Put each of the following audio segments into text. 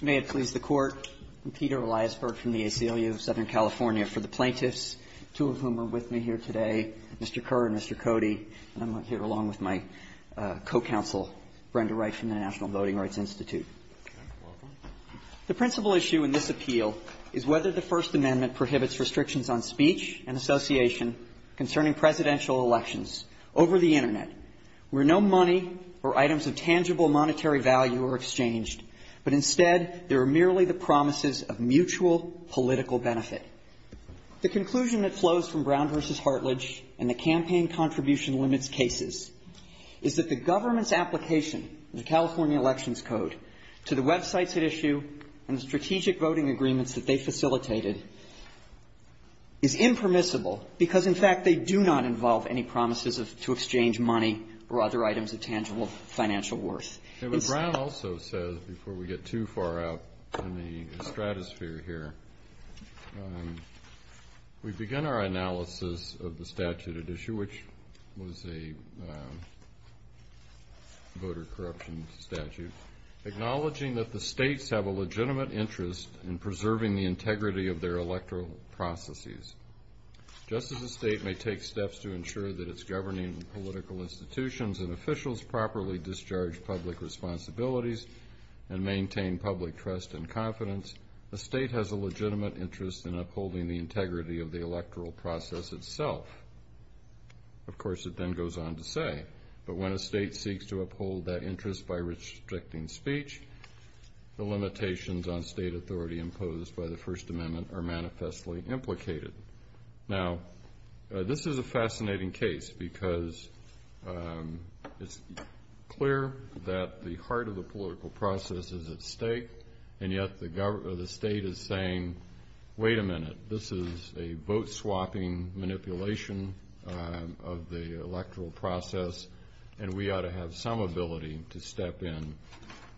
May it please the Court, I'm Peter Eliasberg from the ACLU of Southern California. For the plaintiffs, two of whom are with me here today, Mr. Kerr and Mr. Cody, and I'm here along with my co-counsel, Brenda Wright, from the National Voting Rights Institute. The principal issue in this appeal is whether the First Amendment prohibits restrictions on speech and association concerning presidential elections over the Internet where no money or items of tangible monetary value are exchanged, but instead there are merely the promises of mutual political benefit. The conclusion that flows from Brown v. Hartledge and the campaign contribution limits cases is that the government's application of the California Elections Code to the websites it issued and the strategic voting agreements that they facilitated is impermissible because, in fact, they do not involve any promises to exchange money or other items of tangible financial worth. And what Brown also says, before we get too far out in the stratosphere here, we begin our analysis of the statute at issue, which was a voter corruption statute, acknowledging that the states have a legitimate interest in preserving the integrity of their electoral processes. Just as a state may take steps to ensure that its governing political institutions and officials properly discharge public responsibilities and maintain public trust and confidence, a state has a legitimate interest in upholding the integrity of the electoral process itself. Of course, it then goes on to say, but when a state seeks to uphold that interest by restricting speech, the limitations on state authority imposed by the First Amendment are manifestly implicated. Now, this is a fascinating case because it's clear that the heart of the political process is at stake, and yet the state is saying, wait a minute, this is a boat-swapping manipulation of the electoral process, and we ought to have some ability to step in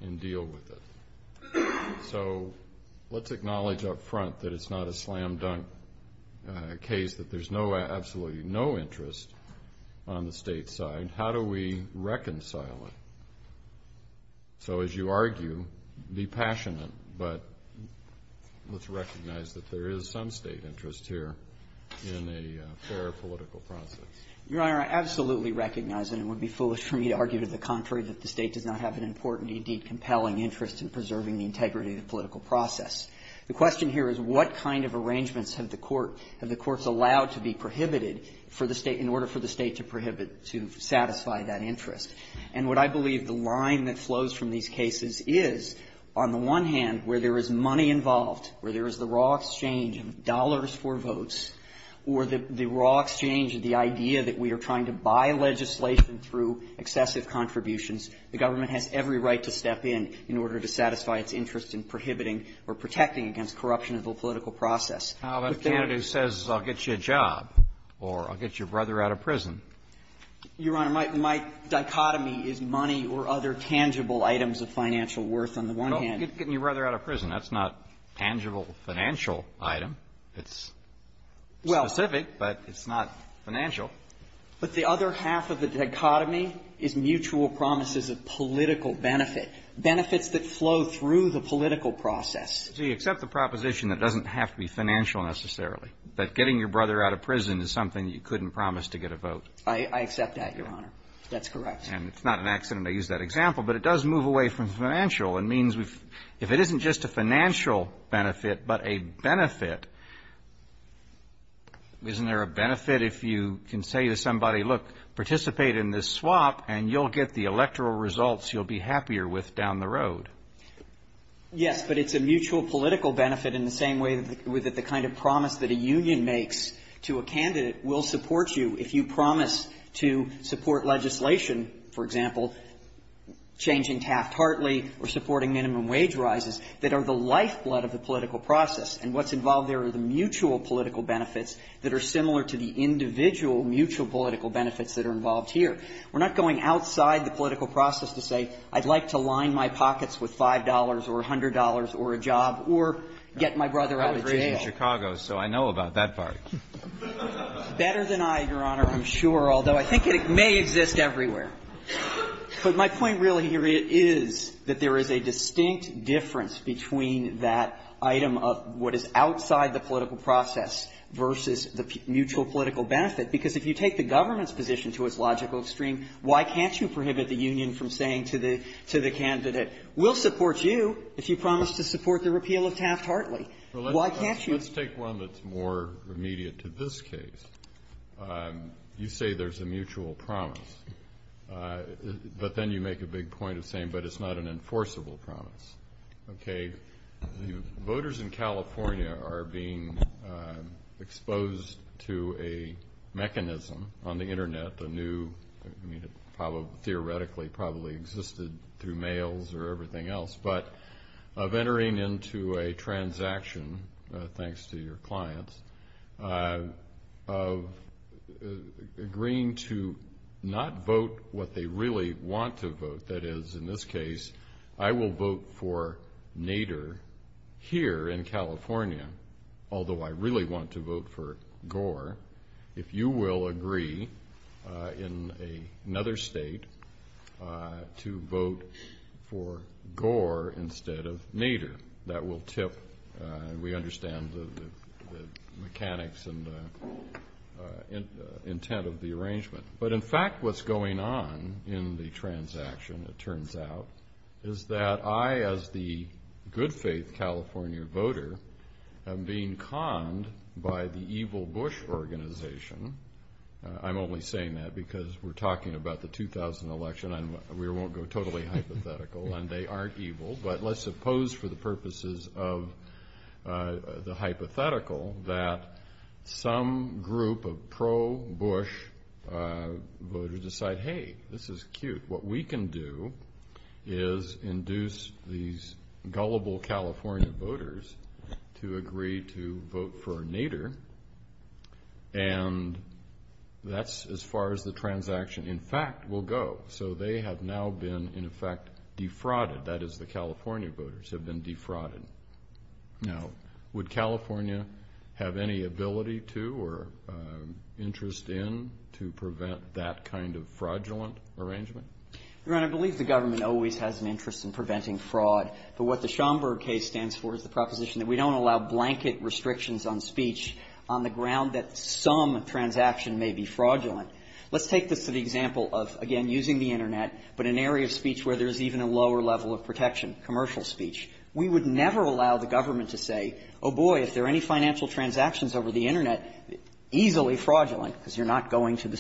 and deal with it. So let's acknowledge up front that it's not a slam-dunk case, that there's absolutely no interest on the state side. How do we reconcile it? So as you argue, be passionate, but let's recognize that there is some state interest here in a fair political process. Your Honor, I absolutely recognize, and it would be foolish for me to argue to the contrary, that the state does not have an important, indeed compelling, interest in preserving the integrity of the political process. The question here is what kind of arrangements have the courts allowed to be prohibited in order for the state to satisfy that interest? And what I believe the line that flows from these cases is, on the one hand, where there is money involved, where there is the raw exchange of dollars for votes, or the raw exchange of the idea that we are trying to buy legislation through excessive contributions, the government has every right to step in, in order to satisfy its interest in prohibiting or protecting against corruption of the political process. But there is no interest. Kennedy says, I'll get you a job, or I'll get your brother out of prison. Your Honor, my dichotomy is money or other tangible items of financial worth on the one hand. Well, getting your brother out of prison, that's not tangible financial item. It's specific, but it's not financial. But the other half of the dichotomy is mutual promises of political benefit, benefits that flow through the political process. So you accept the proposition that it doesn't have to be financial, necessarily, that getting your brother out of prison is something you couldn't promise to get a vote? I accept that, Your Honor. That's correct. And it's not an accident I used that example, but it does move away from financial. It means if it isn't just a financial benefit, but a benefit, isn't there a benefit if you can say to somebody, look, participate in this swap, and you'll get the electoral results you'll be happier with down the road? Yes, but it's a mutual political benefit in the same way that the kind of promise that a union makes to a candidate will support you if you promise to support legislation, for example, changing Taft-Hartley or supporting minimum wage rises, that are the lifeblood of the political process. And what's involved there are the mutual political benefits that are similar to the individual mutual political benefits that are involved here. We're not going outside the political process to say, I'd like to line my pockets with $5 or $100 or a job or get my brother out of jail. I'm from Chicago, so I know about that part. Better than I, Your Honor, I'm sure, although I think it may exist everywhere. But my point really here is that there is a distinct difference between that item of what is outside the political process versus the mutual political benefit, because if you take the government's position to its logical extreme, why can't you prohibit the union from saying to the candidate, we'll support you if you promise to support the repeal of Taft-Hartley? Why can't you? Well, let's take one that's more immediate to this case. You say there's a mutual promise, but then you make a big point of saying, but it's not an enforceable promise. Okay? Voters in California are being exposed to a mechanism on the Internet, a new, I mean, it probably theoretically probably existed through mails or everything else. But of entering into a transaction, thanks to your clients, of agreeing to not vote what they really want to vote, that is, in this case, I will vote for Nader here in California, although I really want to vote for Gore. If you will agree in another state to vote for Gore instead of Nader, that will tip, we understand the mechanics and the intent of the arrangement. But in fact, what's going on in the transaction, it turns out, is that I, as the good faith California voter, am being conned by the evil Bush organization. I'm only saying that because we're talking about the 2000 election, and we won't go totally hypothetical, and they aren't evil. But let's suppose, for the purposes of the hypothetical, that some group of pro-Bush voters decide, hey, this is cute. What we can do is induce these gullible California voters to agree to vote for Nader. And that's as far as the transaction, in fact, will go. So they have now been, in effect, defrauded. That is, the California voters have been defrauded. Now, would California have any ability to or interest in to prevent that kind of fraudulent arrangement? Gannon, I believe the government always has an interest in preventing fraud. But what the Schomburg case stands for is the proposition that we don't allow blanket restrictions on speech on the ground that some transaction may be fraudulent. Let's take this as an example of, again, using the Internet, but an area of speech where there's even a lower level of protection, commercial speech. We would never allow the government to say, oh, boy, if there are any financial transactions over the Internet, easily fraudulent, because you're not going to the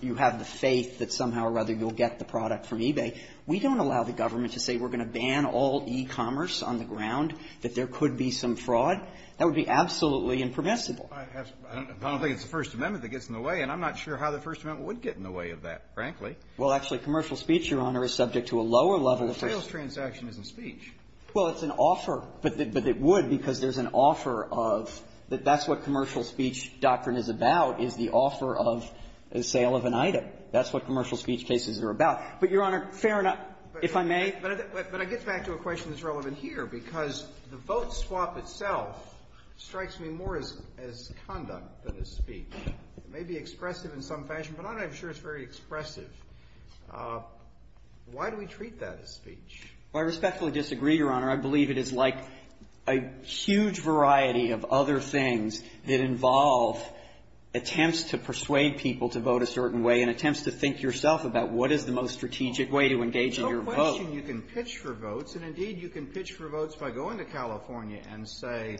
you have the faith that somehow or other you'll get the product from eBay. We don't allow the government to say we're going to ban all e-commerce on the ground, that there could be some fraud. That would be absolutely impermissible. I don't think it's the First Amendment that gets in the way, and I'm not sure how the First Amendment would get in the way of that, frankly. Well, actually, commercial speech, Your Honor, is subject to a lower level of protection. But the sales transaction isn't speech. Well, it's an offer, but it would because there's an offer of that's what commercial speech doctrine is about, is the offer of the sale of an item. That's what commercial speech cases are about. But, Your Honor, fair enough, if I may. But I get back to a question that's relevant here, because the vote swap itself strikes me more as conduct than as speech. It may be expressive in some fashion, but I'm not sure it's very expressive. Why do we treat that as speech? Well, I respectfully disagree, Your Honor. I believe it is like a huge variety of other things that involve attempts to persuade people to vote a certain way and attempts to think yourself about what is the most strategic way to engage in your vote. There's no question you can pitch for votes, and, indeed, you can pitch for votes by going to California and say,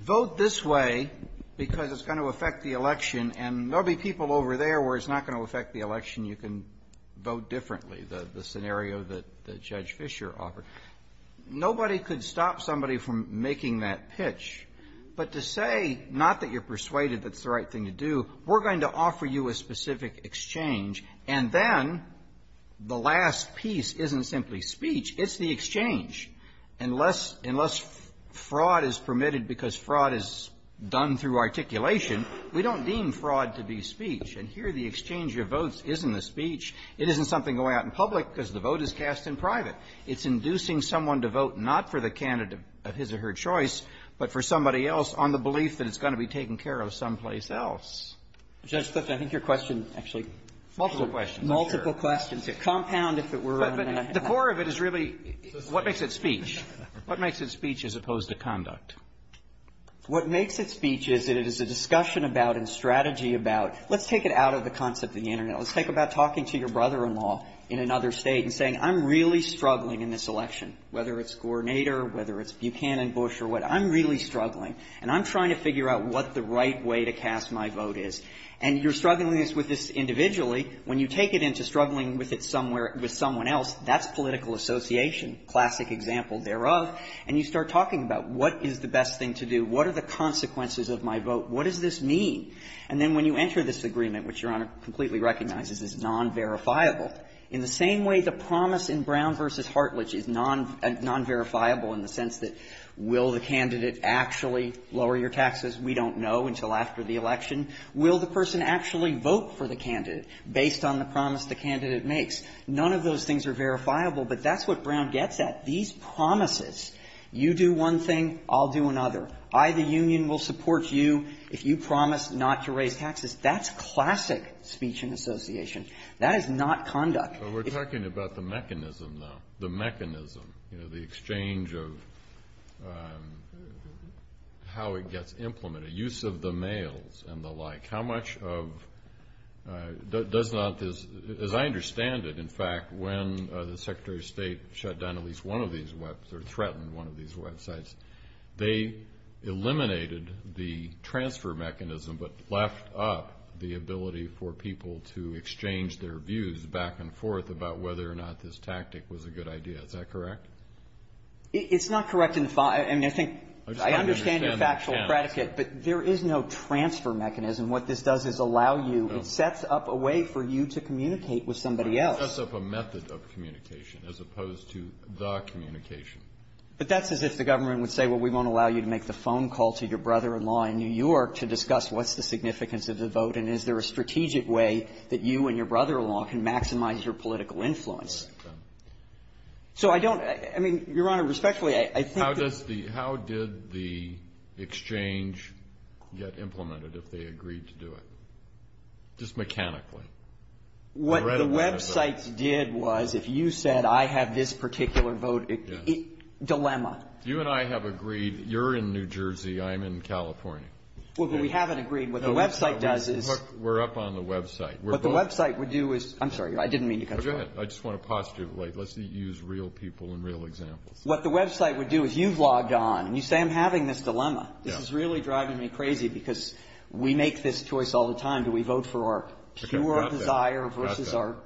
vote this way because it's going to affect the election, and there will be people over there where it's not going to affect the election. You can vote differently, the scenario that Judge Fischer offered. Nobody could stop somebody from making that pitch. But to say, not that you're persuaded that it's the right thing to do, we're going to offer you a specific exchange, and then the last piece isn't simply speech. It's the exchange. Unless fraud is permitted because fraud is done through articulation, we don't deem fraud to be speech. And here, the exchange of votes isn't the speech. It isn't something going out in public because the vote is cast in private. It's inducing someone to vote not for the candidate of his or her choice, but for somebody else on the belief that it's going to be taken care of someplace else. Justice, I think your question actually has multiple questions. Multiple questions. It's a compound, if it were, on that. The core of it is really what makes it speech? What makes it speech as opposed to conduct? What makes it speech is that it is a discussion about and strategy about. Let's take it out of the concept of the Internet. Let's think about talking to your brother-in-law in another State and saying, I'm really struggling in this election, whether it's Gornader, whether it's Buchanan, Bush, or whatever. I'm really struggling, and I'm trying to figure out what the right way to cast my vote is. And you're struggling with this individually. When you take it into struggling with it somewhere, with someone else, that's political association, classic example thereof. And you start talking about what is the best thing to do, what are the consequences of my vote, what does this mean? And then when you enter this agreement, which Your Honor completely recognizes is nonverifiable, in the same way the promise in Brown v. Hartlidge is nonverifiable in the sense that will the candidate actually lower your taxes? We don't know until after the election. Will the person actually vote for the candidate based on the promise the candidate makes? None of those things are verifiable, but that's what Brown gets at. These promises, you do one thing, I'll do another. I, the union, will support you if you promise not to raise taxes. That's classic speech and association. That is not conduct. Kennedy. Well, we're talking about the mechanism, though, the mechanism, you know, the exchange of how it gets implemented, use of the mails and the like, how much of does not, as I understand it, in fact, when the Secretary of State shut down at least one of these websites or threatened one of these websites, they eliminated the transfer mechanism but left up the ability for people to exchange their views back and forth about whether or not this tactic was a good idea. Is that correct? It's not correct in the, I mean, I think I understand your factual predicate, but there is no transfer mechanism. What this does is allow you, it sets up a way for you to communicate with somebody else. It sets up a method of communication as opposed to the communication. But that's as if the government would say, well, we won't allow you to make the phone call to your brother-in-law in New York to discuss what's the significance of the vote and is there a strategic way that you and your brother-in-law can maximize your political influence. So I don't, I mean, Your Honor, respectfully, I think that's the How did the exchange get implemented if they agreed to do it? Just mechanically. What the websites did was if you said I have this particular vote, dilemma. You and I have agreed, you're in New Jersey, I'm in California. Well, but we haven't agreed. What the website does is We're up on the website. What the website would do is, I'm sorry, I didn't mean to cut you off. Go ahead, I just want to pause you, like, let's use real people and real examples. What the website would do is you've logged on and you say I'm having this dilemma. This is really driving me crazy because we make this choice all the time. Do we vote for our pure desire versus our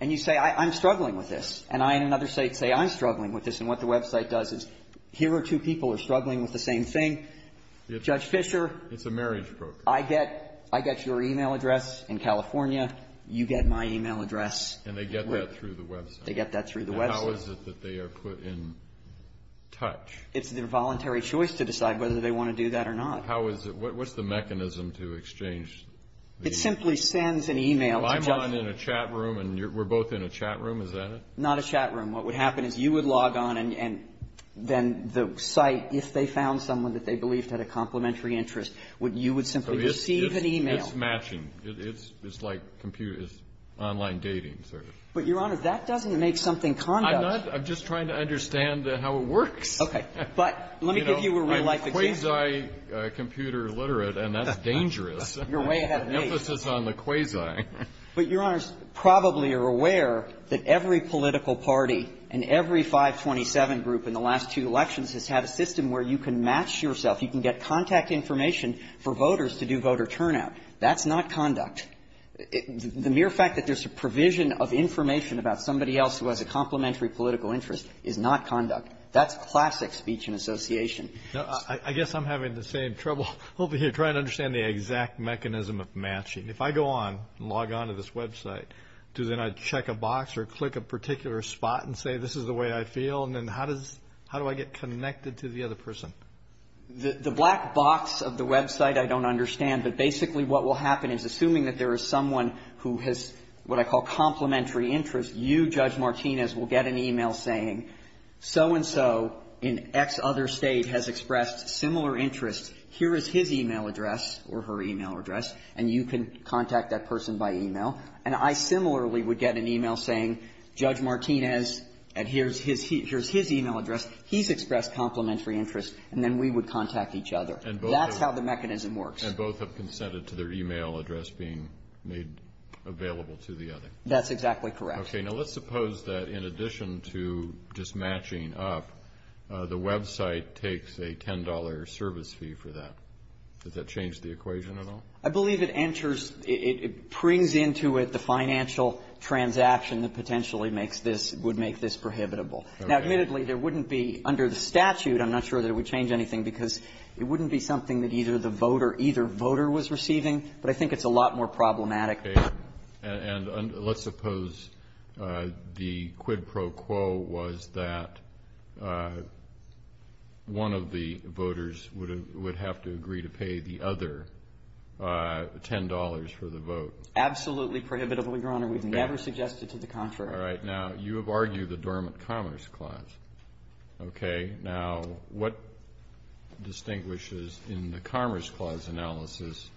And you say I'm struggling with this. And I, in another state, say I'm struggling with this. And what the website does is here are two people who are struggling with the same thing. Judge Fischer. It's a marriage broker. I get your e-mail address in California. You get my e-mail address. And they get that through the website. They get that through the website. And how is it that they are put in touch? It's their voluntary choice to decide whether they want to do that or not. How is it? What's the mechanism to exchange the e-mail? It simply sends an e-mail. Well, I'm on in a chat room and we're both in a chat room. Is that it? Not a chat room. What would happen is you would log on and then the site, if they found someone that they believed had a complementary interest, you would simply receive an e-mail. It's matching. It's like online dating, sort of. But, Your Honor, that doesn't make something conduct. I'm not – I'm just trying to understand how it works. Okay. But let me give you a real-life example. You're quasi-computer literate, and that's dangerous. You're way ahead of me. Emphasis on the quasi. But, Your Honors, probably you're aware that every political party and every 527 group in the last two elections has had a system where you can match yourself. You can get contact information for voters to do voter turnout. That's not conduct. The mere fact that there's a provision of information about somebody else who has a complementary political interest is not conduct. That's classic speech and association. I guess I'm having the same trouble over here trying to understand the exact mechanism of matching. If I go on and log on to this website, do then I check a box or click a particular spot and say, this is the way I feel, and then how does – how do I get connected to the other person? The black box of the website, I don't understand. But basically what will happen is, assuming that there is someone who has what I call complementary interest, you, Judge Martinez, will get an e-mail saying, so-and-so in X other state has expressed similar interest. Here is his e-mail address or her e-mail address, and you can contact that person by e-mail. And I similarly would get an e-mail saying, Judge Martinez, and here's his e-mail address, he's expressed complementary interest, and then we would contact each other. That's how the mechanism works. And both have consented to their e-mail address being made available to the other. That's exactly correct. Okay. Now, let's suppose that in addition to just matching up, the website takes a $10 service fee for that. Does that change the equation at all? I believe it enters – it brings into it the financial transaction that potentially makes this – would make this prohibitable. Okay. Now, admittedly, there wouldn't be – under the statute, I'm not sure that it would change anything, because it wouldn't be something that either the voter – either voter was receiving. But I think it's a lot more problematic. Okay. And let's suppose the quid pro quo was that one of the voters would have to agree to pay the other $10 for the vote. Absolutely prohibitable, Your Honor. We've never suggested to the contrary. All right. Now, you have argued the Dormant Commerce Clause. Okay. Now, what distinguishes in the Commerce Clause analysis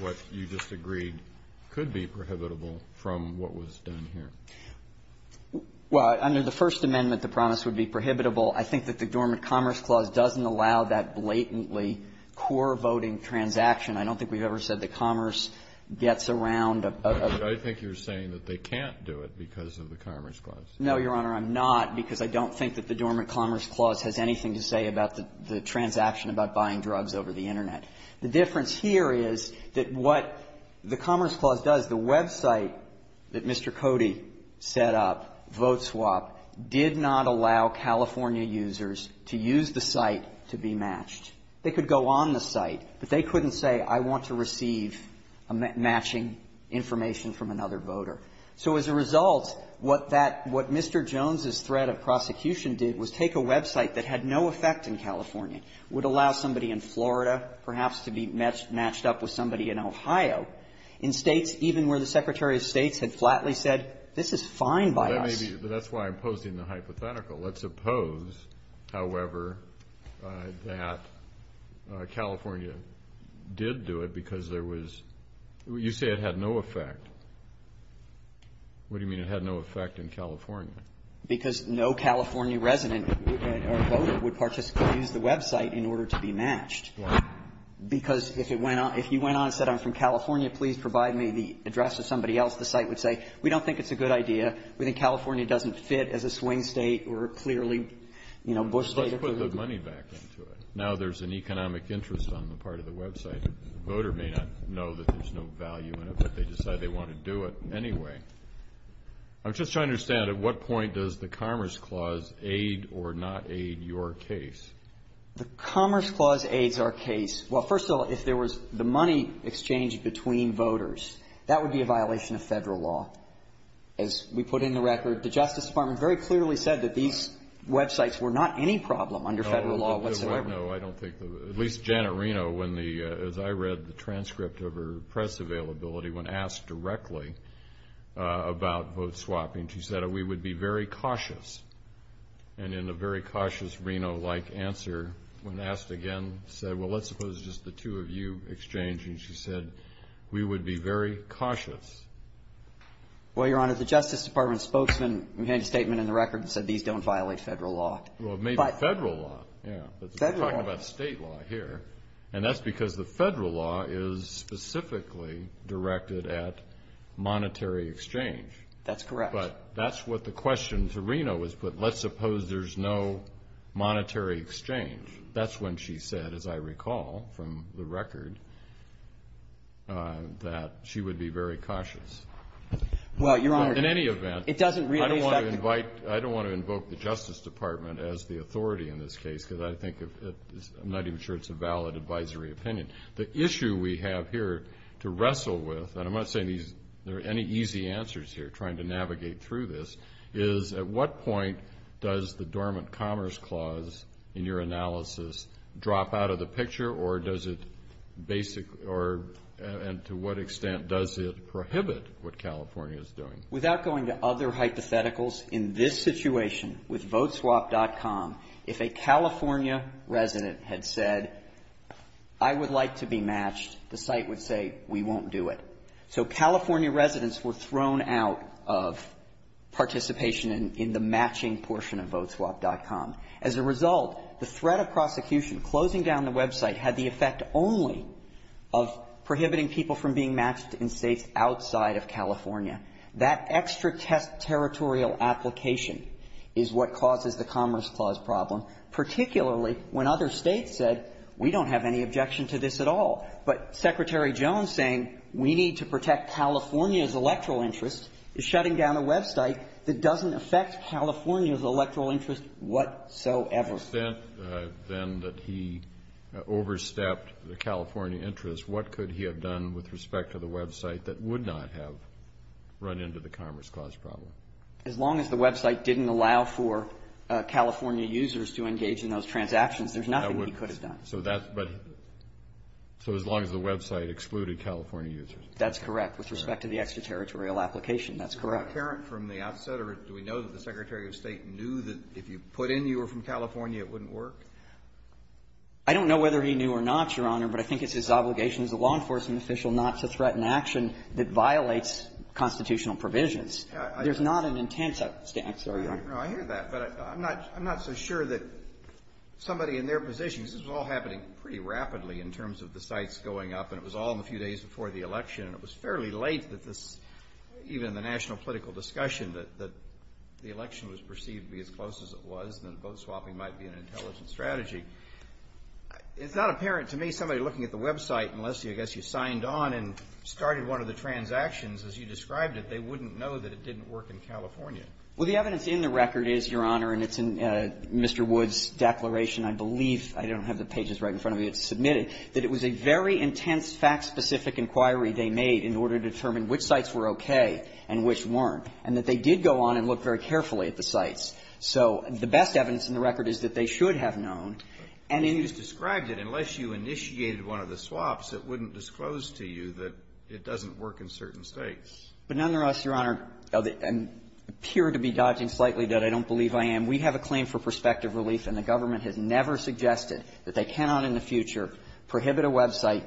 what you just agreed could be prohibitable from what was done here? Well, under the First Amendment, the promise would be prohibitable. I think that the Dormant Commerce Clause doesn't allow that blatantly core voting transaction. I don't think we've ever said that commerce gets around a – I think you're saying that they can't do it because of the Commerce Clause. No, Your Honor. I'm not, because I don't think that the Dormant Commerce Clause has anything to say about the transaction about buying drugs over the Internet. The difference here is that what the Commerce Clause does, the website that Mr. Cody set up, VoteSwap, did not allow California users to use the site to be matched. They could go on the site, but they couldn't say, I want to receive matching information from another voter. So as a result, what that – what Mr. Jones' threat of prosecution did was take a website that had no effect in California, would allow somebody in Florida perhaps to be matched up with somebody in Ohio, in states even where the Secretary of State had flatly said, this is fine by us. Well, that may be – that's why I'm posing the hypothetical. Let's suppose, however, that California did do it because there was – you say it had no effect. What do you mean it had no effect in California? Because no California resident or voter would participate and use the website in order to be matched. Why? Because if it went on – if he went on and said, I'm from California, please provide me the address of somebody else, the site would say, we don't think it's a good idea. We think California doesn't fit as a swing State or clearly, you know, Bush State. Let's put the money back into it. Now there's an economic interest on the part of the website. The voter may not know that there's no value in it, but they decide they want to do it anyway. I'm just trying to understand, at what point does the Commerce Clause aid or not aid your case? The Commerce Clause aids our case – well, first of all, if there was the money exchanged between voters, that would be a violation of Federal law. As we put in the record, the Justice Department very clearly said that these websites were not any problem under Federal law whatsoever. No, I don't think the – at least Janet Reno, when the – as I read the transcript of her press availability, when asked directly about vote swapping, she said, we would be very cautious. And in a very cautious Reno-like answer, when asked again, said, well, let's suppose just the two of you exchange, and she said, we would be very cautious. Well, Your Honor, the Justice Department spokesman made a statement in the record that said these don't violate Federal law. Well, maybe Federal law, yeah. Federal law. Well, we're talking about State law here, and that's because the Federal law is specifically directed at monetary exchange. That's correct. But that's what the question to Reno was put, let's suppose there's no monetary exchange. That's when she said, as I recall from the record, that she would be very cautious. Well, Your Honor – But in any event – It doesn't – I don't want to invite – I don't want to invoke the Justice Department as the authority in this case, because I think it's – I'm not even sure it's a valid advisory opinion. The issue we have here to wrestle with – and I'm not saying these – there are any easy answers here trying to navigate through this – is at what point does the Dormant Commerce Clause in your analysis drop out of the picture, or does it basically – or – and to what extent does it prohibit what California is doing? Without going to other hypotheticals, in this situation with Voteswap.com, if a California resident had said, I would like to be matched, the site would say, we won't do it. So California residents were thrown out of participation in the matching portion of Voteswap.com. As a result, the threat of prosecution, closing down the website, had the effect only of prohibiting people from being matched in States outside of California. That extra territorial application is what causes the Commerce Clause problem, particularly when other States said, we don't have any objection to this at all. But Secretary Jones saying, we need to protect California's electoral interest is shutting down a website that doesn't affect California's electoral interest whatsoever. To the extent, then, that he overstepped the California interest, what could he have done with respect to the website that would not have run into the Commerce Clause problem? As long as the website didn't allow for California users to engage in those transactions, there's nothing he could have done. So that's – but – so as long as the website excluded California users. That's correct, with respect to the extra territorial application. That's correct. Was he apparent from the outset, or do we know that the Secretary of State knew that if you put in you were from California, it wouldn't work? I don't know whether he knew or not, Your Honor, but I think it's his obligation as a law enforcement official not to threaten action that violates constitutional provisions. There's not an intent, I'm sorry, Your Honor. No, I hear that, but I'm not – I'm not so sure that somebody in their position – this is all happening pretty rapidly in terms of the sites going up, and it was all in the few days before the election, and it was fairly late that this, even in the national political discussion, that the election was perceived to be as close as it was, and that vote-swapping might be an intelligent strategy. It's not apparent to me somebody looking at the website, unless, I guess, you signed on and started one of the transactions as you described it, they wouldn't know that it didn't work in California. Well, the evidence in the record is, Your Honor, and it's in Mr. Wood's declaration, I believe. I don't have the pages right in front of me. It's submitted that it was a very intense, fact-specific inquiry they made in order to determine which sites were okay and which weren't, and that they did go on and look very carefully at the sites. So the best evidence in the record is that they should have known. And in the – But you just described it. Unless you initiated one of the swaps, it wouldn't disclose to you that it doesn't work in certain states. But nonetheless, Your Honor, and appear to be dodging slightly that I don't believe I am, we have a claim for prospective relief, and the government has never suggested that they cannot in the future prohibit a website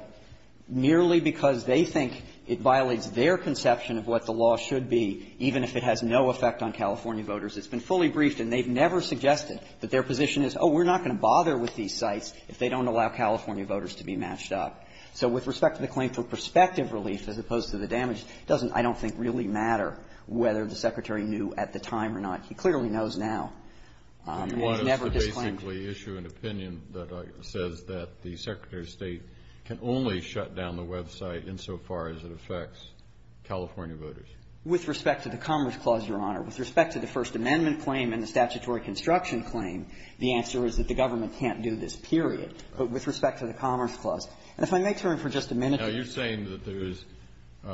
merely because they think it violates their conception of what the law should be, even if it has no effect on California voters. It's been fully briefed, and they've never suggested that their position is, oh, we're not going to bother with these sites if they don't allow California voters to be matched up. So with respect to the claim for prospective relief, as opposed to the damage, it doesn't, I don't think, really matter whether the Secretary knew at the time or not. He clearly knows now, and he's never disclaimed it. And why don't you basically issue an opinion that says that the Secretary of State can only shut down the website insofar as it affects California voters? With respect to the Commerce Clause, Your Honor, with respect to the First Amendment claim and the statutory construction claim, the answer is that the government can't do this, period. But with respect to the Commerce Clause, and if I may turn for just a minute. Now, you're saying that there is –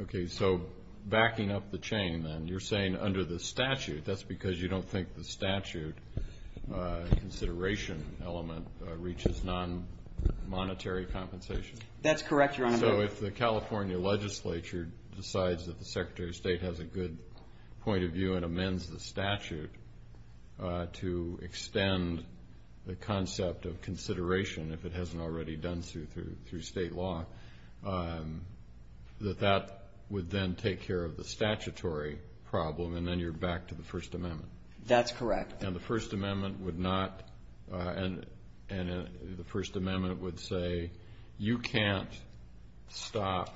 okay. So backing up the chain, then, you're saying under the statute, that's because you don't think the statute consideration element reaches nonmonetary compensation? That's correct, Your Honor. So if the California legislature decides that the Secretary of State has a good point of view and amends the statute to extend the concept of consideration, if it hasn't already done so through state law, that that would then take care of the statutory problem, and then you're back to the First Amendment? That's correct. And the First Amendment would not – and the First Amendment would say, you can't stop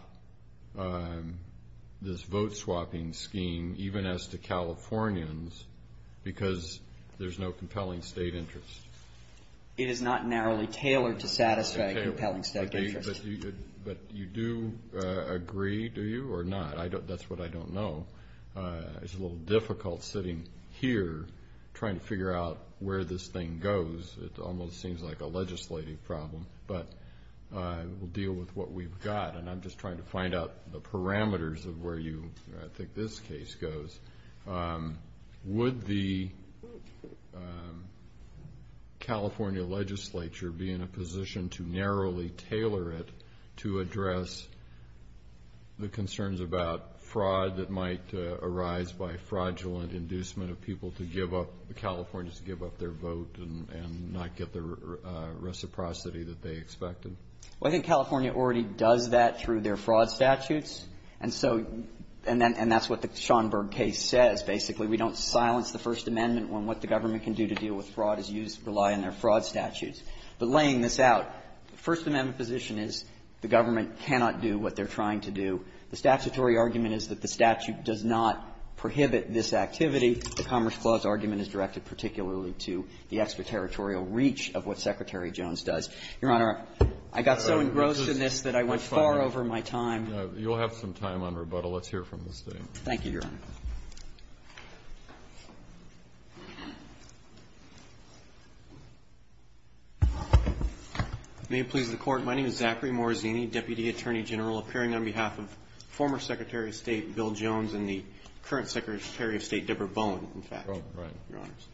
this vote-swapping scheme, even as to Californians, because there's no compelling state interest. It is not narrowly tailored to satisfy compelling state interest. But you do agree, do you, or not? That's what I don't know. It's a little difficult sitting here trying to figure out where this thing goes. It almost seems like a legislative problem. But we'll deal with what we've got. And I'm just trying to find out the parameters of where you – I think this case goes. Would the California legislature be in a position to narrowly tailor it to address the concerns about fraud that might arise by fraudulent inducement of people to give up – Californians to give up their vote and not get the vote that they expected? Well, I think California already does that through their fraud statutes. And so – and that's what the Schomburg case says, basically. We don't silence the First Amendment when what the government can do to deal with fraud is use – rely on their fraud statutes. But laying this out, the First Amendment position is the government cannot do what they're trying to do. The statutory argument is that the statute does not prohibit this activity. The Commerce Clause argument is directed particularly to the extraterritorial reach of what Secretary Jones does. Your Honor, I got so engrossed in this that I went far over my time. You'll have some time on rebuttal. Let's hear from the State. Thank you, Your Honor. May it please the Court. My name is Zachary Morazzini, Deputy Attorney General, appearing on behalf of former Secretary of State Bill Jones and the current Secretary of State Deborah Bowen, in fact. Oh, right. Your Honors,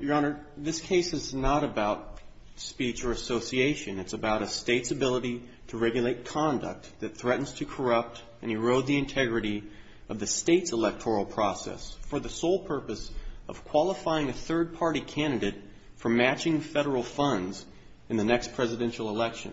Your Honor, this case is not about speech or association. It's about a state's ability to regulate conduct that threatens to corrupt and erode the integrity of the state's electoral process for the sole purpose of qualifying a third-party candidate for matching federal funds in the next presidential election.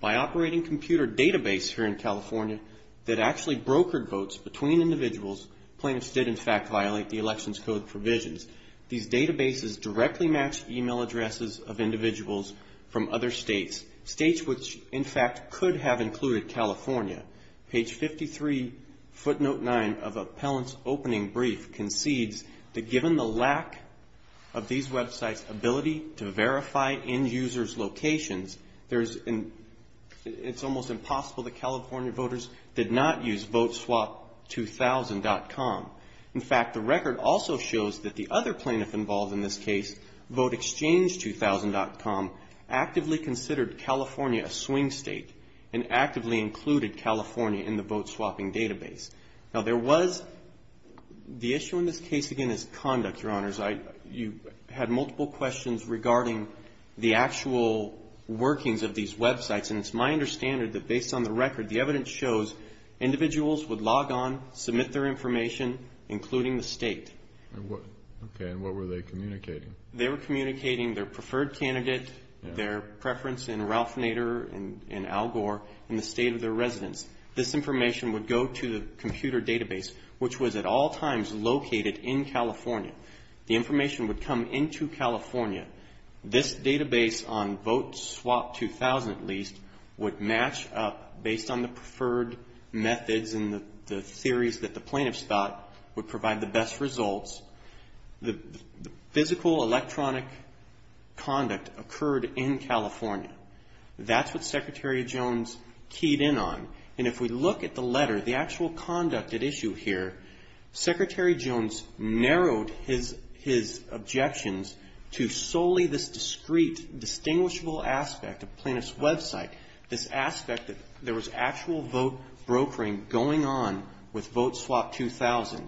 By operating computer database here in California that actually brokered votes between individuals, plaintiffs did, in fact, violate the election's code provisions. These databases directly match email addresses of individuals from other states, states which, in fact, could have included California. Page 53, footnote 9 of Appellant's Opening Brief concedes that given the lack of these websites' ability to verify end users' locations, it's almost impossible that California voters did not use voteswap2000.com. In fact, the record also shows that the other plaintiff involved in this case, voteexchange2000.com, actively considered California a swing state and actively included California in the vote swapping database. Now, there was, the issue in this case, again, is conduct, Your Honors. You had multiple questions regarding the actual workings of these websites, and it's my understanding that based on the record, the evidence shows individuals would log on, submit their information, including the state. And what, okay, and what were they communicating? They were communicating their preferred candidate, their preference in Ralph Nader and Al Gore, and the state of their residence. This information would go to the computer database, which was at all times located in California. The information would come into California. This database on voteswap2000, at least, would match up based on the preferred methods and the theories that the plaintiffs thought would provide the best results. The physical electronic conduct occurred in California. That's what Secretary Jones keyed in on. And if we look at the letter, the actual conduct at issue here, Secretary Jones narrowed his objections to solely this discrete, distinguishable aspect of plaintiff's website, this aspect that there was actual vote brokering going on with voteswap2000.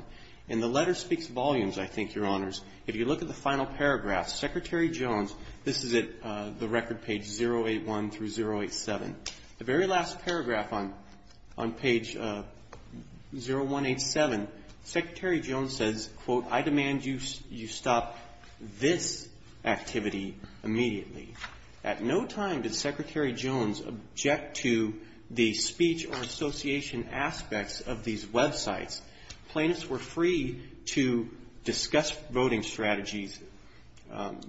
And the letter speaks volumes, I think, Your Honors. If you look at the final paragraph, Secretary Jones, this is at the record page 081 through 087. The very last paragraph on page 0187, Secretary Jones says, quote, I demand you stop this activity immediately. At no time did Secretary Jones object to the speech or association aspects of these websites. Plaintiffs were free to discuss voting strategies.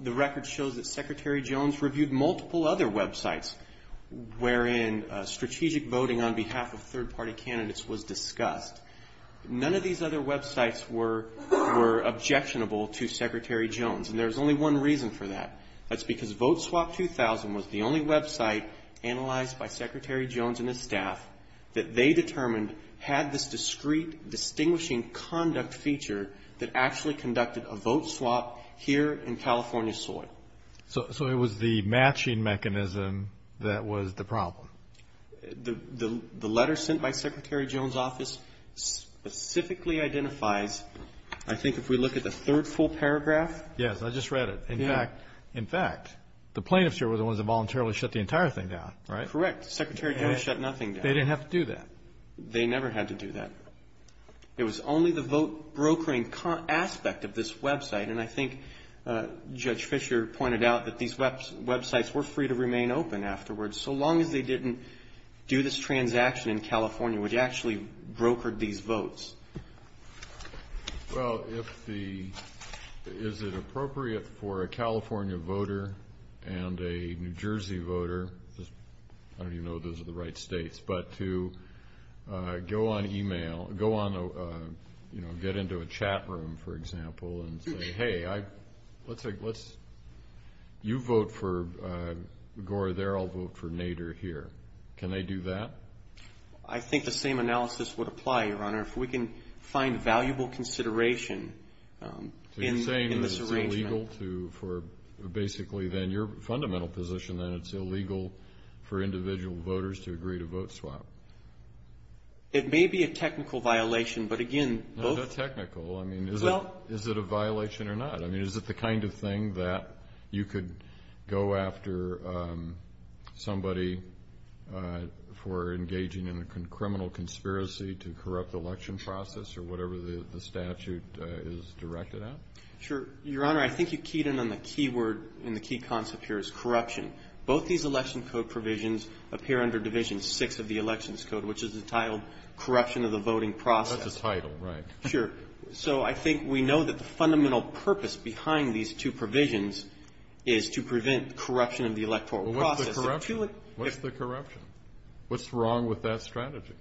The record shows that Secretary Jones reviewed multiple other websites wherein strategic voting on behalf of third-party candidates was discussed. None of these other websites were objectionable to Secretary Jones. And there's only one reason for that. That's because voteswap2000 was the only website analyzed by Secretary Jones and his staff that they determined had this discrete, distinguishing conduct feature that actually conducted a vote swap here in California soil. So it was the matching mechanism that was the problem. The letter sent by Secretary Jones' office specifically identifies, I think if we look at the third full paragraph. Yes, I just read it. In fact, the plaintiffs here were the ones that voluntarily shut the entire thing down, right? Correct. Secretary Jones shut nothing down. They didn't have to do that. They never had to do that. It was only the vote brokering aspect of this website. And I think Judge Fischer pointed out that these websites were free to remain open afterwards, so long as they didn't do this transaction in California, which actually brokered these votes. Well, if the, is it appropriate for a California voter and a New Jersey voter, I don't even know if those are the right states, but to go on email, go on, you know, get into a chat room, for example, and say, hey, I, let's, you vote for Gore there, I'll vote for Nader here. Can they do that? I think the same analysis would apply, Your Honor. If we can find valuable consideration in this arrangement. So you're saying that it's illegal to, for, basically, then, your fundamental position, then it's illegal for individual voters to agree to vote swap. It may be a technical violation, but again, both. No, not technical. I mean, is it a violation or not? I mean, is it the kind of thing that you could go after somebody for engaging in a criminal conspiracy to corrupt the election process or whatever the statute is directed at? Sure. Your Honor, I think you keyed in on the key word and the key concept here is corruption. Both these election code provisions appear under Division 6 of the Elections Code, which is entitled Corruption of the Voting Process. That's a title, right. Sure. So I think we know that the fundamental purpose behind these two provisions is to prevent corruption of the electoral process. What's the corruption? What's wrong with that strategy?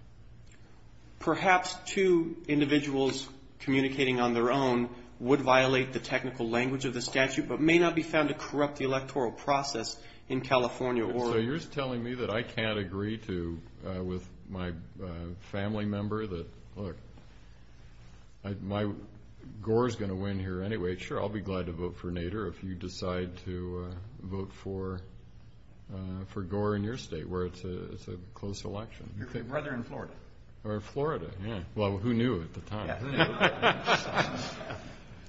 Perhaps two individuals communicating on their own would violate the technical language of the statute, but may not be found to corrupt the electoral process in California or- So you're just telling me that I can't agree to, with my family member, that, look, Gore's going to win here anyway. Sure, I'll be glad to vote for Nader if you decide to vote for Gore in your state, where it's a close election. Your brother in Florida. Or Florida, yeah. Well, who knew at the time?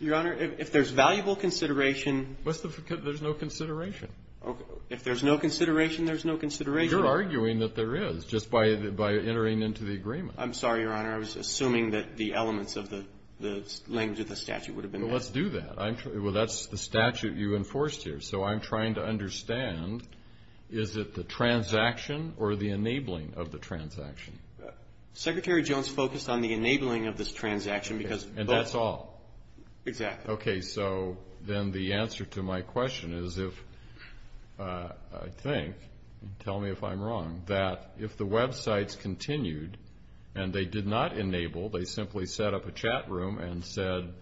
Your Honor, if there's valuable consideration- What's the, there's no consideration. Okay. If there's no consideration, there's no consideration. You're arguing that there is, just by entering into the agreement. I'm sorry, Your Honor. I was assuming that the elements of the language of the statute would have been- Well, let's do that. I'm, well, that's the statute you enforced here. So I'm trying to understand, is it the transaction or the enabling of the transaction? Secretary Jones focused on the enabling of this transaction because- And that's all. Exactly. Okay, so then the answer to my question is if, I think, tell me if I'm wrong, that if the websites continued and they did not enable, they simply set up a chat room and said,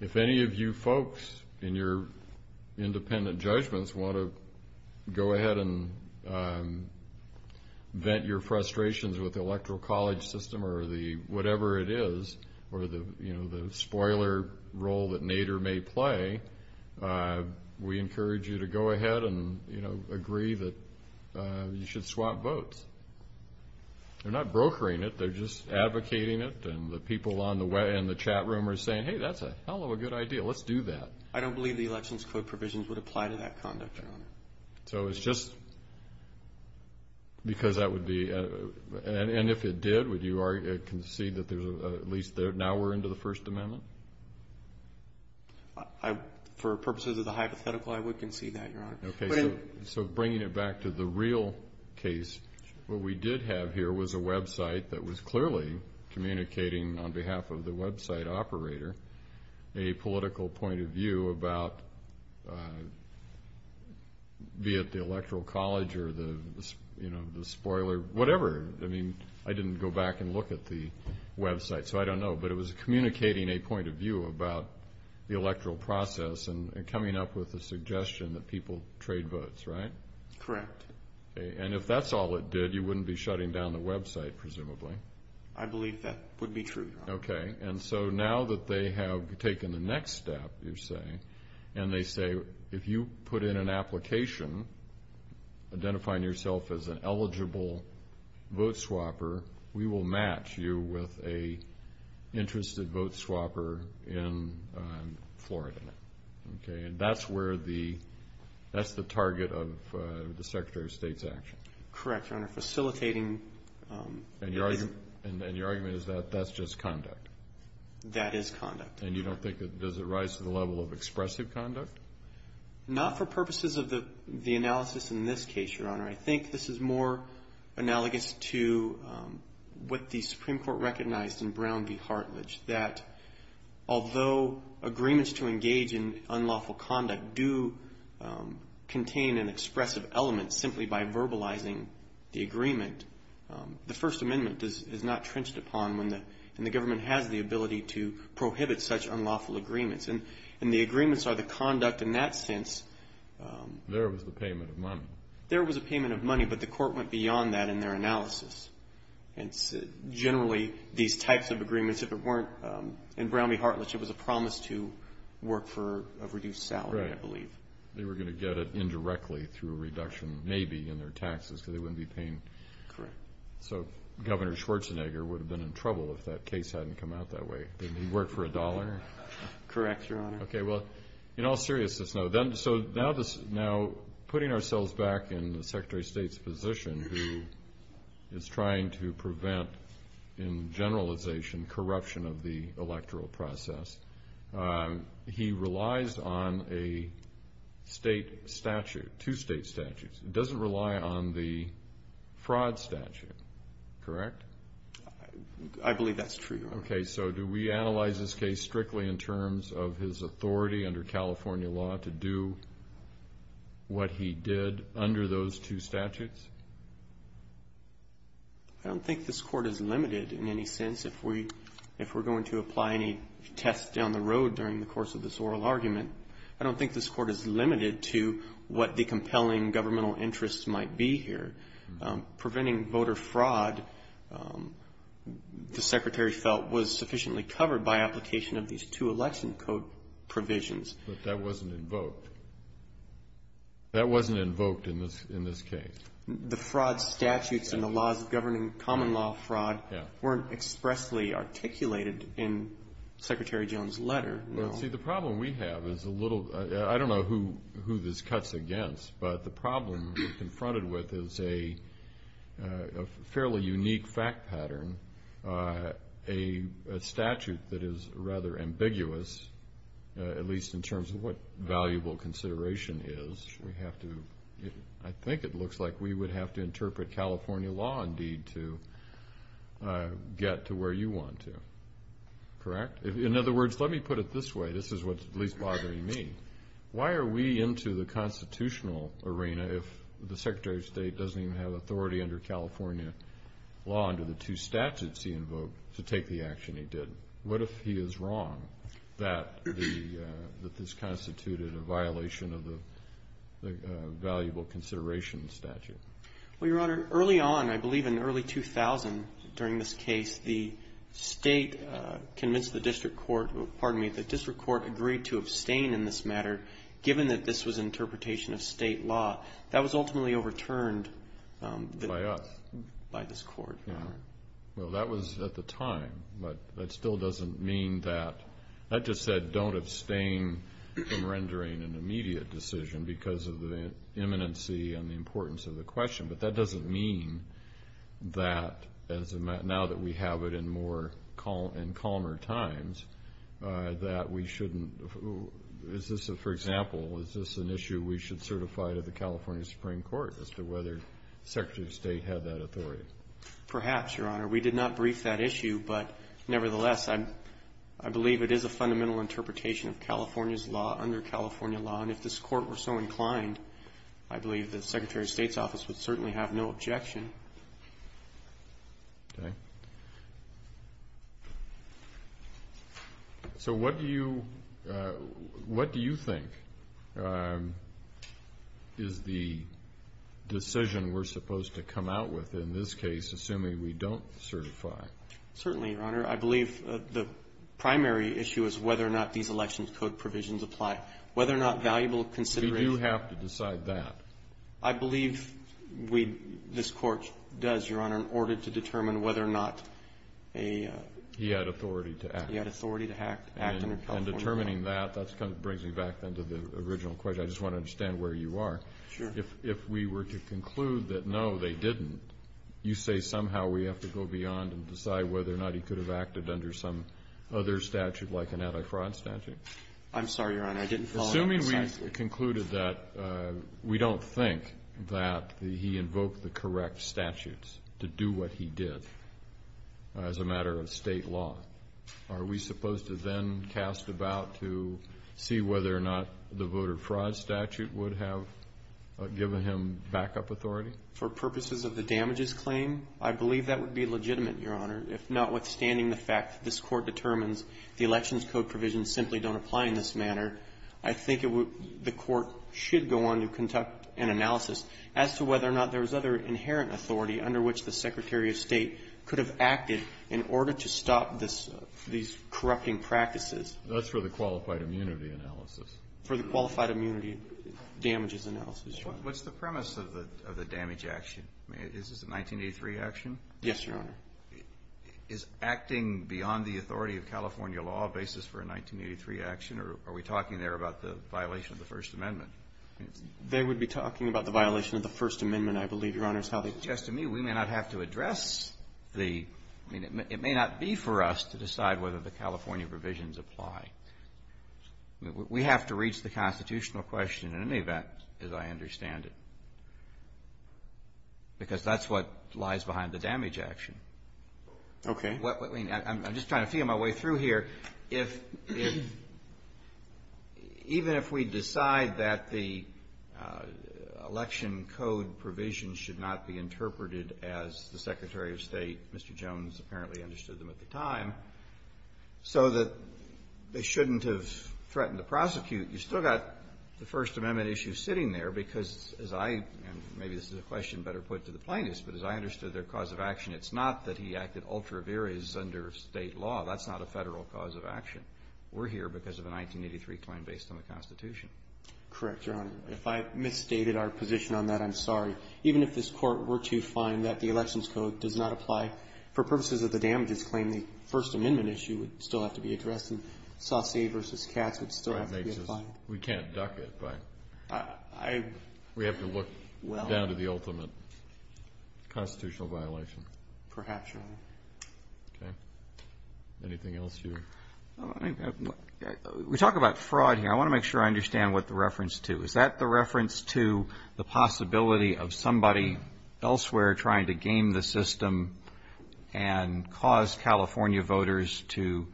if any of you folks in your electoral college system or the, whatever it is, or the, you know, the spoiler role that Nader may play, we encourage you to go ahead and, you know, agree that you should swap votes. They're not brokering it. They're just advocating it and the people on the way in the chat room are saying, hey, that's a hell of a good idea. Let's do that. So it's just because that would be, and if it did, would you concede that there's, at least now we're into the First Amendment? For purposes of the hypothetical, I would concede that, Your Honor. Okay, so bringing it back to the real case, what we did have here was a website that was clearly communicating on behalf of the website operator a political point of view about, be it the electoral college or the, you know, the spoiler, whatever, I mean, I didn't go back and look at the website, so I don't know, but it was communicating a point of view about the electoral process and coming up with a suggestion that people trade votes, right? Correct. And if that's all it did, you wouldn't be shutting down the website, presumably? I believe that would be true, Your Honor. Okay, and so now that they have taken the next step, you're saying, and they say, if you put in an application identifying yourself as an eligible vote swapper, we will match you with a interested vote swapper in Florida, okay? And that's where the, that's the target of the Secretary of State's action? Correct, Your Honor. Facilitating. And your argument is that that's just conduct? That is conduct. And you don't think, does it rise to the level of expressive conduct? Not for purposes of the analysis in this case, Your Honor. I think this is more analogous to what the Supreme Court recognized in Brown v. Hartledge, that although agreements to engage in unlawful conduct do contain an expressive element simply by verbalizing the agreement, the First Amendment is not trenched upon when the, and the government has the ability to prohibit such unlawful agreements. And the agreements are the conduct in that sense. There was the payment of money. There was a payment of money, but the court went beyond that in their analysis. And generally, these types of agreements, if it weren't in Brown v. Hartledge, they were going to get it indirectly through a reduction maybe in their taxes because they wouldn't be paying. Correct. So Governor Schwarzenegger would have been in trouble if that case hadn't come out that way. Didn't he work for a dollar? Correct, Your Honor. Okay, well, in all seriousness now, then, so now this, now putting ourselves back in the Secretary of State's position who is trying to prevent, in generalization, corruption of the electoral process, he relies on a state statute, two state statutes. It doesn't rely on the fraud statute, correct? I believe that's true, Your Honor. Okay, so do we analyze this case strictly in terms of his authority under California law to do what he did under those two statutes? I don't think this court is limited in any sense if we're going to apply any tests down the road during the course of this oral argument. I don't think this court is limited to what the compelling governmental interests might be here. Preventing voter fraud, the Secretary felt, was sufficiently covered by application of these two election code provisions. But that wasn't invoked. That wasn't invoked in this case. The fraud statutes and the laws governing common law fraud weren't expressly articulated in Secretary Jones' letter. Well, see, the problem we have is a little, I don't know who this cuts against, but the problem we're confronted with is a fairly unique fact pattern, a statute that is rather ambiguous, at least in terms of what valuable consideration is. We have to, I think it looks like we would have to interpret California law, indeed, to get to where you want to. Correct? In other words, let me put it this way. This is what's at least bothering me. Why are we into the constitutional arena if the Secretary of State doesn't even have authority under California law under the two statutes he invoked to take the action he did? What if he is wrong that this constituted a violation of the valuable consideration statute? Well, Your Honor, early on, I believe in early 2000 during this case, the State convinced the district court, pardon me, the district court agreed to abstain in this matter given that this was an interpretation of State law. That was ultimately overturned by us, by this Court, Your Honor. Well, that was at the time, but that still doesn't mean that, that just said don't abstain from rendering an immediate decision because of the imminency and the importance of the question, but that doesn't mean that as a matter, now that we have it in more, in calmer times, that we shouldn't, is this a, for example, is this an issue we should certify to the California Supreme Court as to whether the Secretary of State had that authority? Perhaps, Your Honor. We did not brief that issue, but nevertheless, I believe it is a fundamental interpretation of California's law under California law, and if this Court were so inclined, I believe the Secretary of State's office would certainly have no objection. Okay. So what do you, what do you think is the decision we're supposed to come out with in this case, assuming we don't certify? Certainly, Your Honor. I believe the primary issue is whether or not these election code provisions apply. Whether or not valuable consideration We do have to decide that. I believe we, this Court does, Your Honor, in order to determine whether or not a He had authority to act. He had authority to act under California law. And determining that, that kind of brings me back then to the original question. I just want to understand where you are. Sure. If we were to conclude that, no, they didn't, you say somehow we have to go beyond and decide whether or not he could have acted under some other statute like an anti-fraud statute? I'm sorry, Your Honor. I didn't follow up on the statute. Assuming we concluded that we don't think that he invoked the correct statutes to do what he did as a matter of State law, are we supposed to then cast about to see whether or not the voter fraud statute would have given him backup authority? For purposes of the damages claim, I believe that would be legitimate, Your Honor. If notwithstanding the fact that this Court determines the election code provisions simply don't apply in this manner, I think it would, the Court should go on to conduct an analysis as to whether or not there was other inherent authority under which the Secretary of State could have acted in order to stop this, these corrupting practices. That's for the qualified immunity analysis. For the qualified immunity damages analysis, Your Honor. What's the premise of the damage action? Is this a 1983 action? Yes, Your Honor. Is acting beyond the authority of California law a basis for a 1983 action, or are we talking there about the violation of the First Amendment? They would be talking about the violation of the First Amendment, I believe, Your Honor, is how they suggest to me we may not have to address the, I mean, it may not be for us to decide whether the California provisions apply. I mean, we have to reach the constitutional question in any event, as I understand it, because that's what lies behind the damage action. Okay. I mean, I'm just trying to feel my way through here. If, even if we decide that the election code provisions should not be interpreted as the Secretary of State, Mr. Jones apparently understood them at the time, so that they shouldn't have threatened to prosecute, you've still got the First Amendment issue sitting there, because as I, and maybe this is a question better put to the plaintiffs, but as I understood their cause of action, it's not that he acted ultra vires under State law. That's not a Federal cause of action. We're here because of a 1983 claim based on the Constitution. Correct, Your Honor. If I've misstated our position on that, I'm sorry. Even if this Court were to find that the election's code does not apply for purposes of the damages claim, the First Amendment issue would still have to be addressed, and Saucy v. Katz would still have to be applied. We can't duck it, but we have to look down to the ultimate constitutional violation. Perhaps, Your Honor. Okay. Anything else you? We talk about fraud here. I want to make sure I understand what the reference to. Is that the reference to the possibility of somebody elsewhere trying to game the system and cause California voters to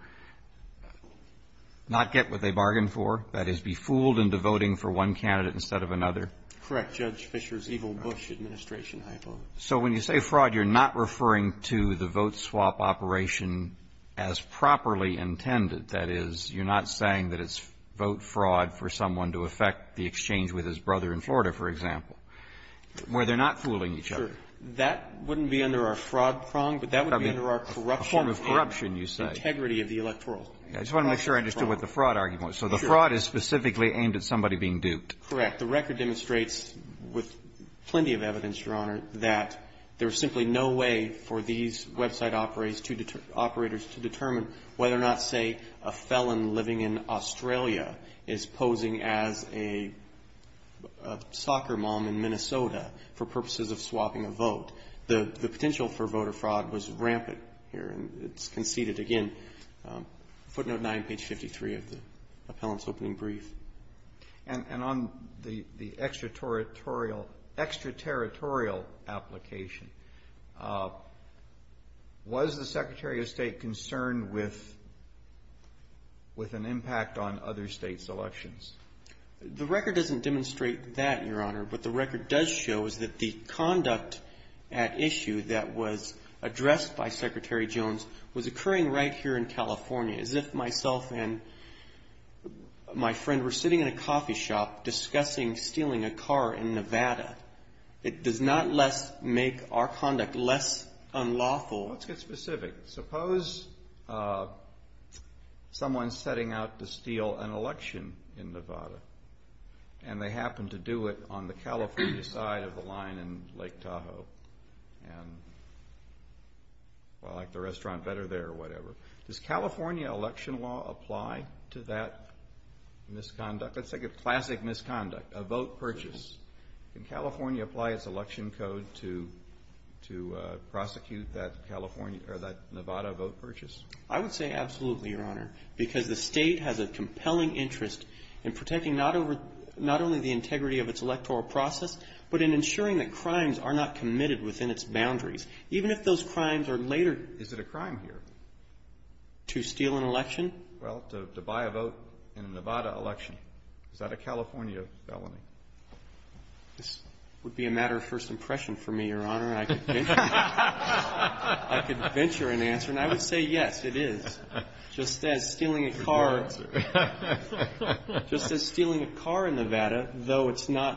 not get what they bargained for, that is, be fooled into voting for one candidate instead of another? Correct. Judge Fischer's evil Bush administration hypo. So when you say fraud, you're not referring to the vote swap operation as properly intended, that is, you're not saying that it's vote fraud for someone to affect the exchange with his brother in Florida, for example, where they're not fooling each other? Sure. That wouldn't be under our fraud prong, but that would be under our corruption prong. A form of corruption, you say. Integrity of the electoral. I just want to make sure I understood what the fraud argument was. So the fraud is specifically aimed at somebody being duped. Correct. The record demonstrates, with plenty of evidence, Your Honor, that there's simply no way for these website operators to determine whether or not, say, a felon living in Australia is posing as a soccer mom in Minnesota for purposes of swapping a vote. The potential for voter fraud was rampant here, and it's conceded. Again, footnote 9, page 53 of the appellant's opening brief. And on the extraterritorial application, was the Secretary of State concerned with an impact on other state's elections? The record doesn't demonstrate that, Your Honor. What the record does show is that the conduct at issue that was addressed by Secretary Jones was occurring right here in California, as if myself and my friend were sitting in a coffee shop discussing stealing a car in Nevada. It does not less make our conduct less unlawful. Let's get specific. Suppose someone's setting out to steal an election in Nevada, and they happen to do it on the California side of the line in Lake Tahoe. And, well, I like the restaurant better there, or whatever. Does California election law apply to that misconduct? Let's take a classic misconduct, a vote purchase. Can California apply its election code to prosecute that Nevada vote purchase? I would say absolutely, Your Honor, because the State has a compelling interest in protecting not only the integrity of its electoral process, but in ensuring that crimes are not committed within its boundaries, even if those crimes are later Is it a crime here? to steal an election? Well, to buy a vote in a Nevada election. Is that a California felony? This would be a matter of first impression for me, Your Honor. I could venture an answer, and I would say yes, it is. Just as stealing a car in Nevada, though the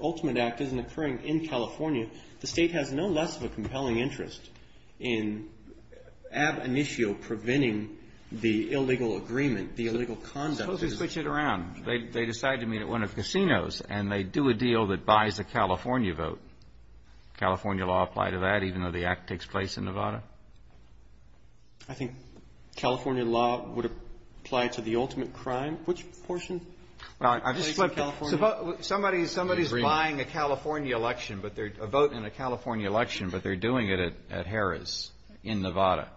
ultimate act isn't occurring in California, the State has no less of a compelling interest in ad initio preventing the illegal agreement, the illegal conduct. Suppose we switch it around. They decide to meet at one of the casinos, and they do a deal that buys a California vote. California law apply to that, even though the act takes place in Nevada? I think California law would apply to the ultimate crime. Which portion takes place in California? Somebody's buying a California election, a vote in a California election, but they're doing it at Harris in Nevada.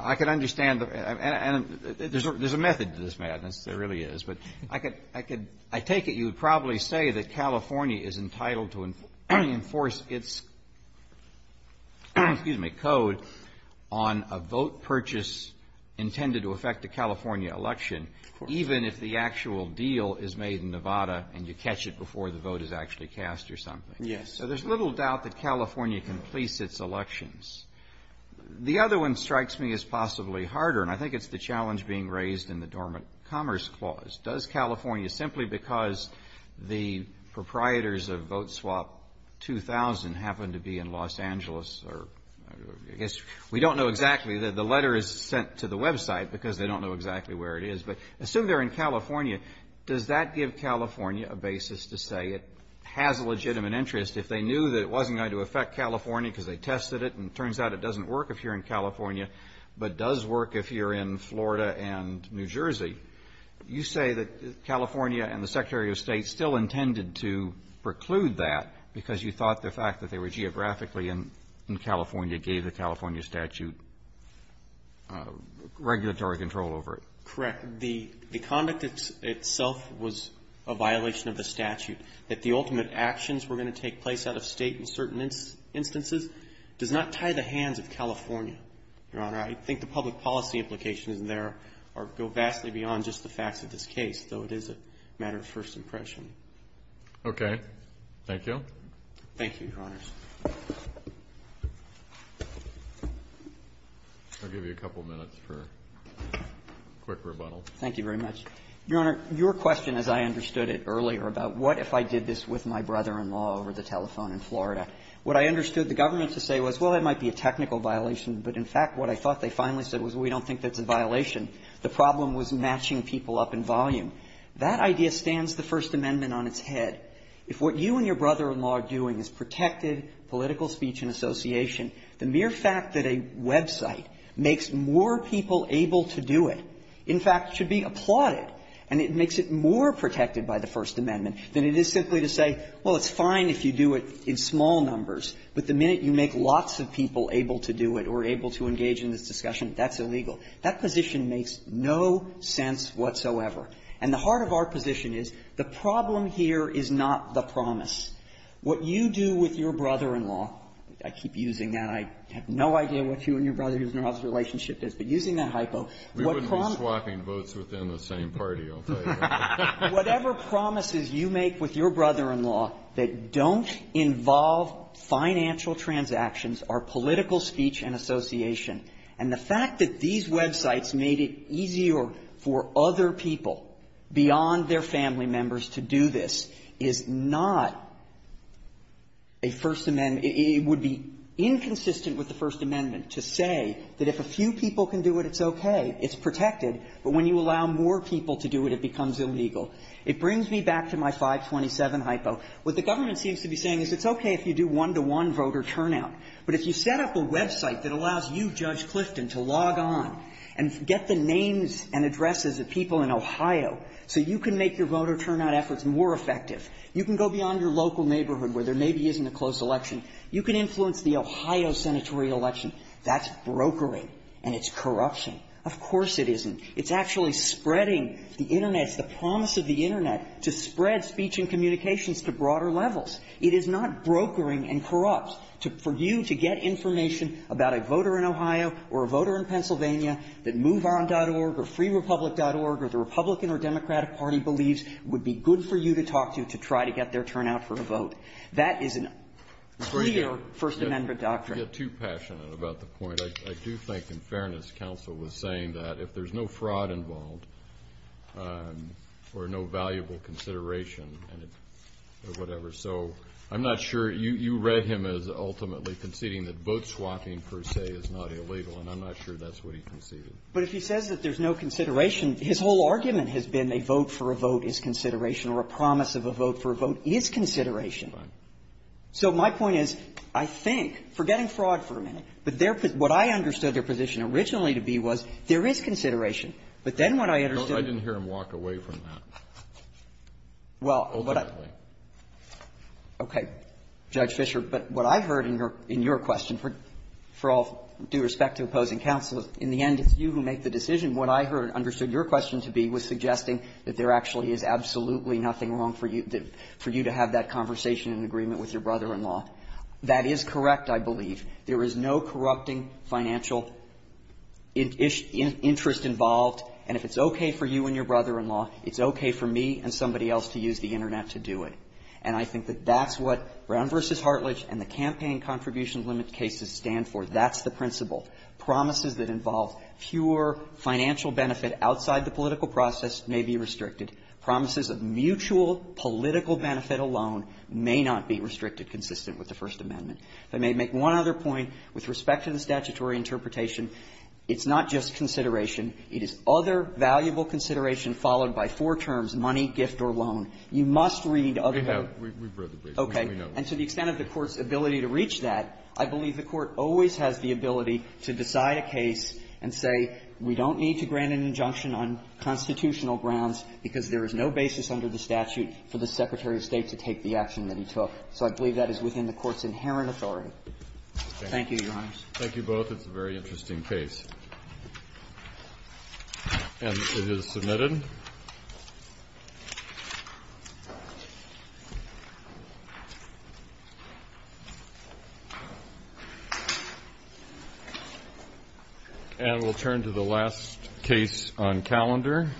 I could understand, and there's a method to this madness, there really is. But I take it you would probably say that California is entitled to enforce its, excuse me, code on a vote purchase intended to affect a California election, even if the actual deal is made in Nevada, and you catch it before the vote is actually cast or something. Yes. So there's little doubt that California can police its elections. The other one strikes me as possibly harder, and I think it's the challenge being raised in the Dormant Commerce Clause. Does California, simply because the proprietors of Vote Swap 2000 happen to be in Los Angeles or, I guess, we don't know exactly, the letter is sent to the Web site because they don't know exactly where it is, but assume they're in California, does that give California a basis to say it has a legitimate interest? If they knew that it wasn't going to affect California because they tested it, and it turns out it doesn't work if you're in California, but does work if you're in Florida and New Jersey, you say that California and the Secretary of State still intended to preclude that because you thought the fact that they were geographically in California gave the California statute regulatory control over it. Correct. The conduct itself was a violation of the statute, that the ultimate actions were going to take place out of State in certain instances, does not tie the hands of California, Your Honor. I think the public policy implications in there go vastly beyond just the facts of this case, though it is a matter of first impression. Okay. Thank you. Thank you, Your Honors. I'll give you a couple minutes for a quick rebuttal. Thank you very much. Your Honor, your question, as I understood it earlier, about what if I did this with my brother-in-law over the telephone in Florida, what I understood the government to say was, well, it might be a technical violation, but in fact, what I thought they finally said was, well, we don't think that's a violation. The problem was matching people up in volume. That idea stands the First Amendment on its head. If what you and your brother-in-law are doing is protected political speech and association, the mere fact that a website makes more people able to do it, in fact, should be applauded, and it makes it more protected by the First Amendment than it is simply to say, well, it's fine if you do it in small numbers, but the minute you make lots of people able to do it or able to engage in this discussion, that's illegal. That position makes no sense whatsoever. And the heart of our position is, the problem here is not the promise. What you do with your brother-in-law, I keep using that, I have no idea what you and your brother-in-law's relationship is, but using that hypo, what promise you make with your brother-in-law. Kennedy, I don't think you and your brother-in-law are in the same party, I'll tell you that. Whatever promises you make with your brother-in-law that don't involve financial transactions are political speech and association. And the fact that these websites made it easier for other people, beyond their family members, to do this is not a First Amendment. And it would be inconsistent with the First Amendment to say that if a few people can do it, it's okay, it's protected, but when you allow more people to do it, it becomes illegal. It brings me back to my 527 hypo. What the government seems to be saying is it's okay if you do one-to-one voter turnout, but if you set up a website that allows you, Judge Clifton, to log on and get the names and addresses of people in Ohio so you can make your voter turnout efforts more effective, you can go beyond your local neighborhood where there maybe isn't a closed election, you can influence the Ohio senatorial election. That's brokering, and it's corruption. Of course it isn't. It's actually spreading the Internet, it's the promise of the Internet, to spread speech and communications to broader levels. It is not brokering and corrupt. For you to get information about a voter in Ohio or a voter in Pennsylvania that moveon.org or freerepublic.org or the Republican or Democratic Party believes it, that is a clear First Amendment doctrine. Breyer, you get too passionate about the point. I do think, in fairness, counsel was saying that if there's no fraud involved or no valuable consideration or whatever, so I'm not sure you read him as ultimately conceding that vote swapping, per se, is not illegal, and I'm not sure that's what he conceded. But if he says that there's no consideration, his whole argument has been a vote for a vote is consideration or a promise of a vote for a vote is consideration. So my point is, I think, forgetting fraud for a minute, but their point, what I understood their position originally to be was, there is consideration, but then what I understood to be the case is that there is consideration. Alito, I didn't hear him walk away from that ultimately. Well, okay, Judge Fischer, but what I heard in your question, for all due respect to opposing counsel, in the end, it's you who make the decision. What I heard and understood your question to be was suggesting that there actually is absolutely nothing wrong for you to have that conversation in agreement with your brother-in-law. That is correct, I believe. There is no corrupting financial interest involved, and if it's okay for you and your brother-in-law, it's okay for me and somebody else to use the Internet to do it. And I think that that's what Brown v. Hartlidge and the campaign contribution limit cases stand for. That's the principle. Promises that involve pure financial benefit outside the political process may be restricted. Promises of mutual political benefit alone may not be restricted consistent with the First Amendment. If I may make one other point with respect to the statutory interpretation, it's not just consideration. It is other valuable consideration followed by four terms, money, gift, or loan. You must read other than the other. Breyer, we've read the brief. We know. Okay. And to the extent of the Court's ability to reach that, I believe the Court always has the ability to decide a case and say we don't need to grant an injunction on constitutional grounds because there is no basis under the statute for the Secretary of State to take the action that he took. So I believe that is within the Court's inherent authority. Thank you, Your Honors. Thank you both. It's a very interesting case. And it is submitted. And we'll turn to the last case on calendar.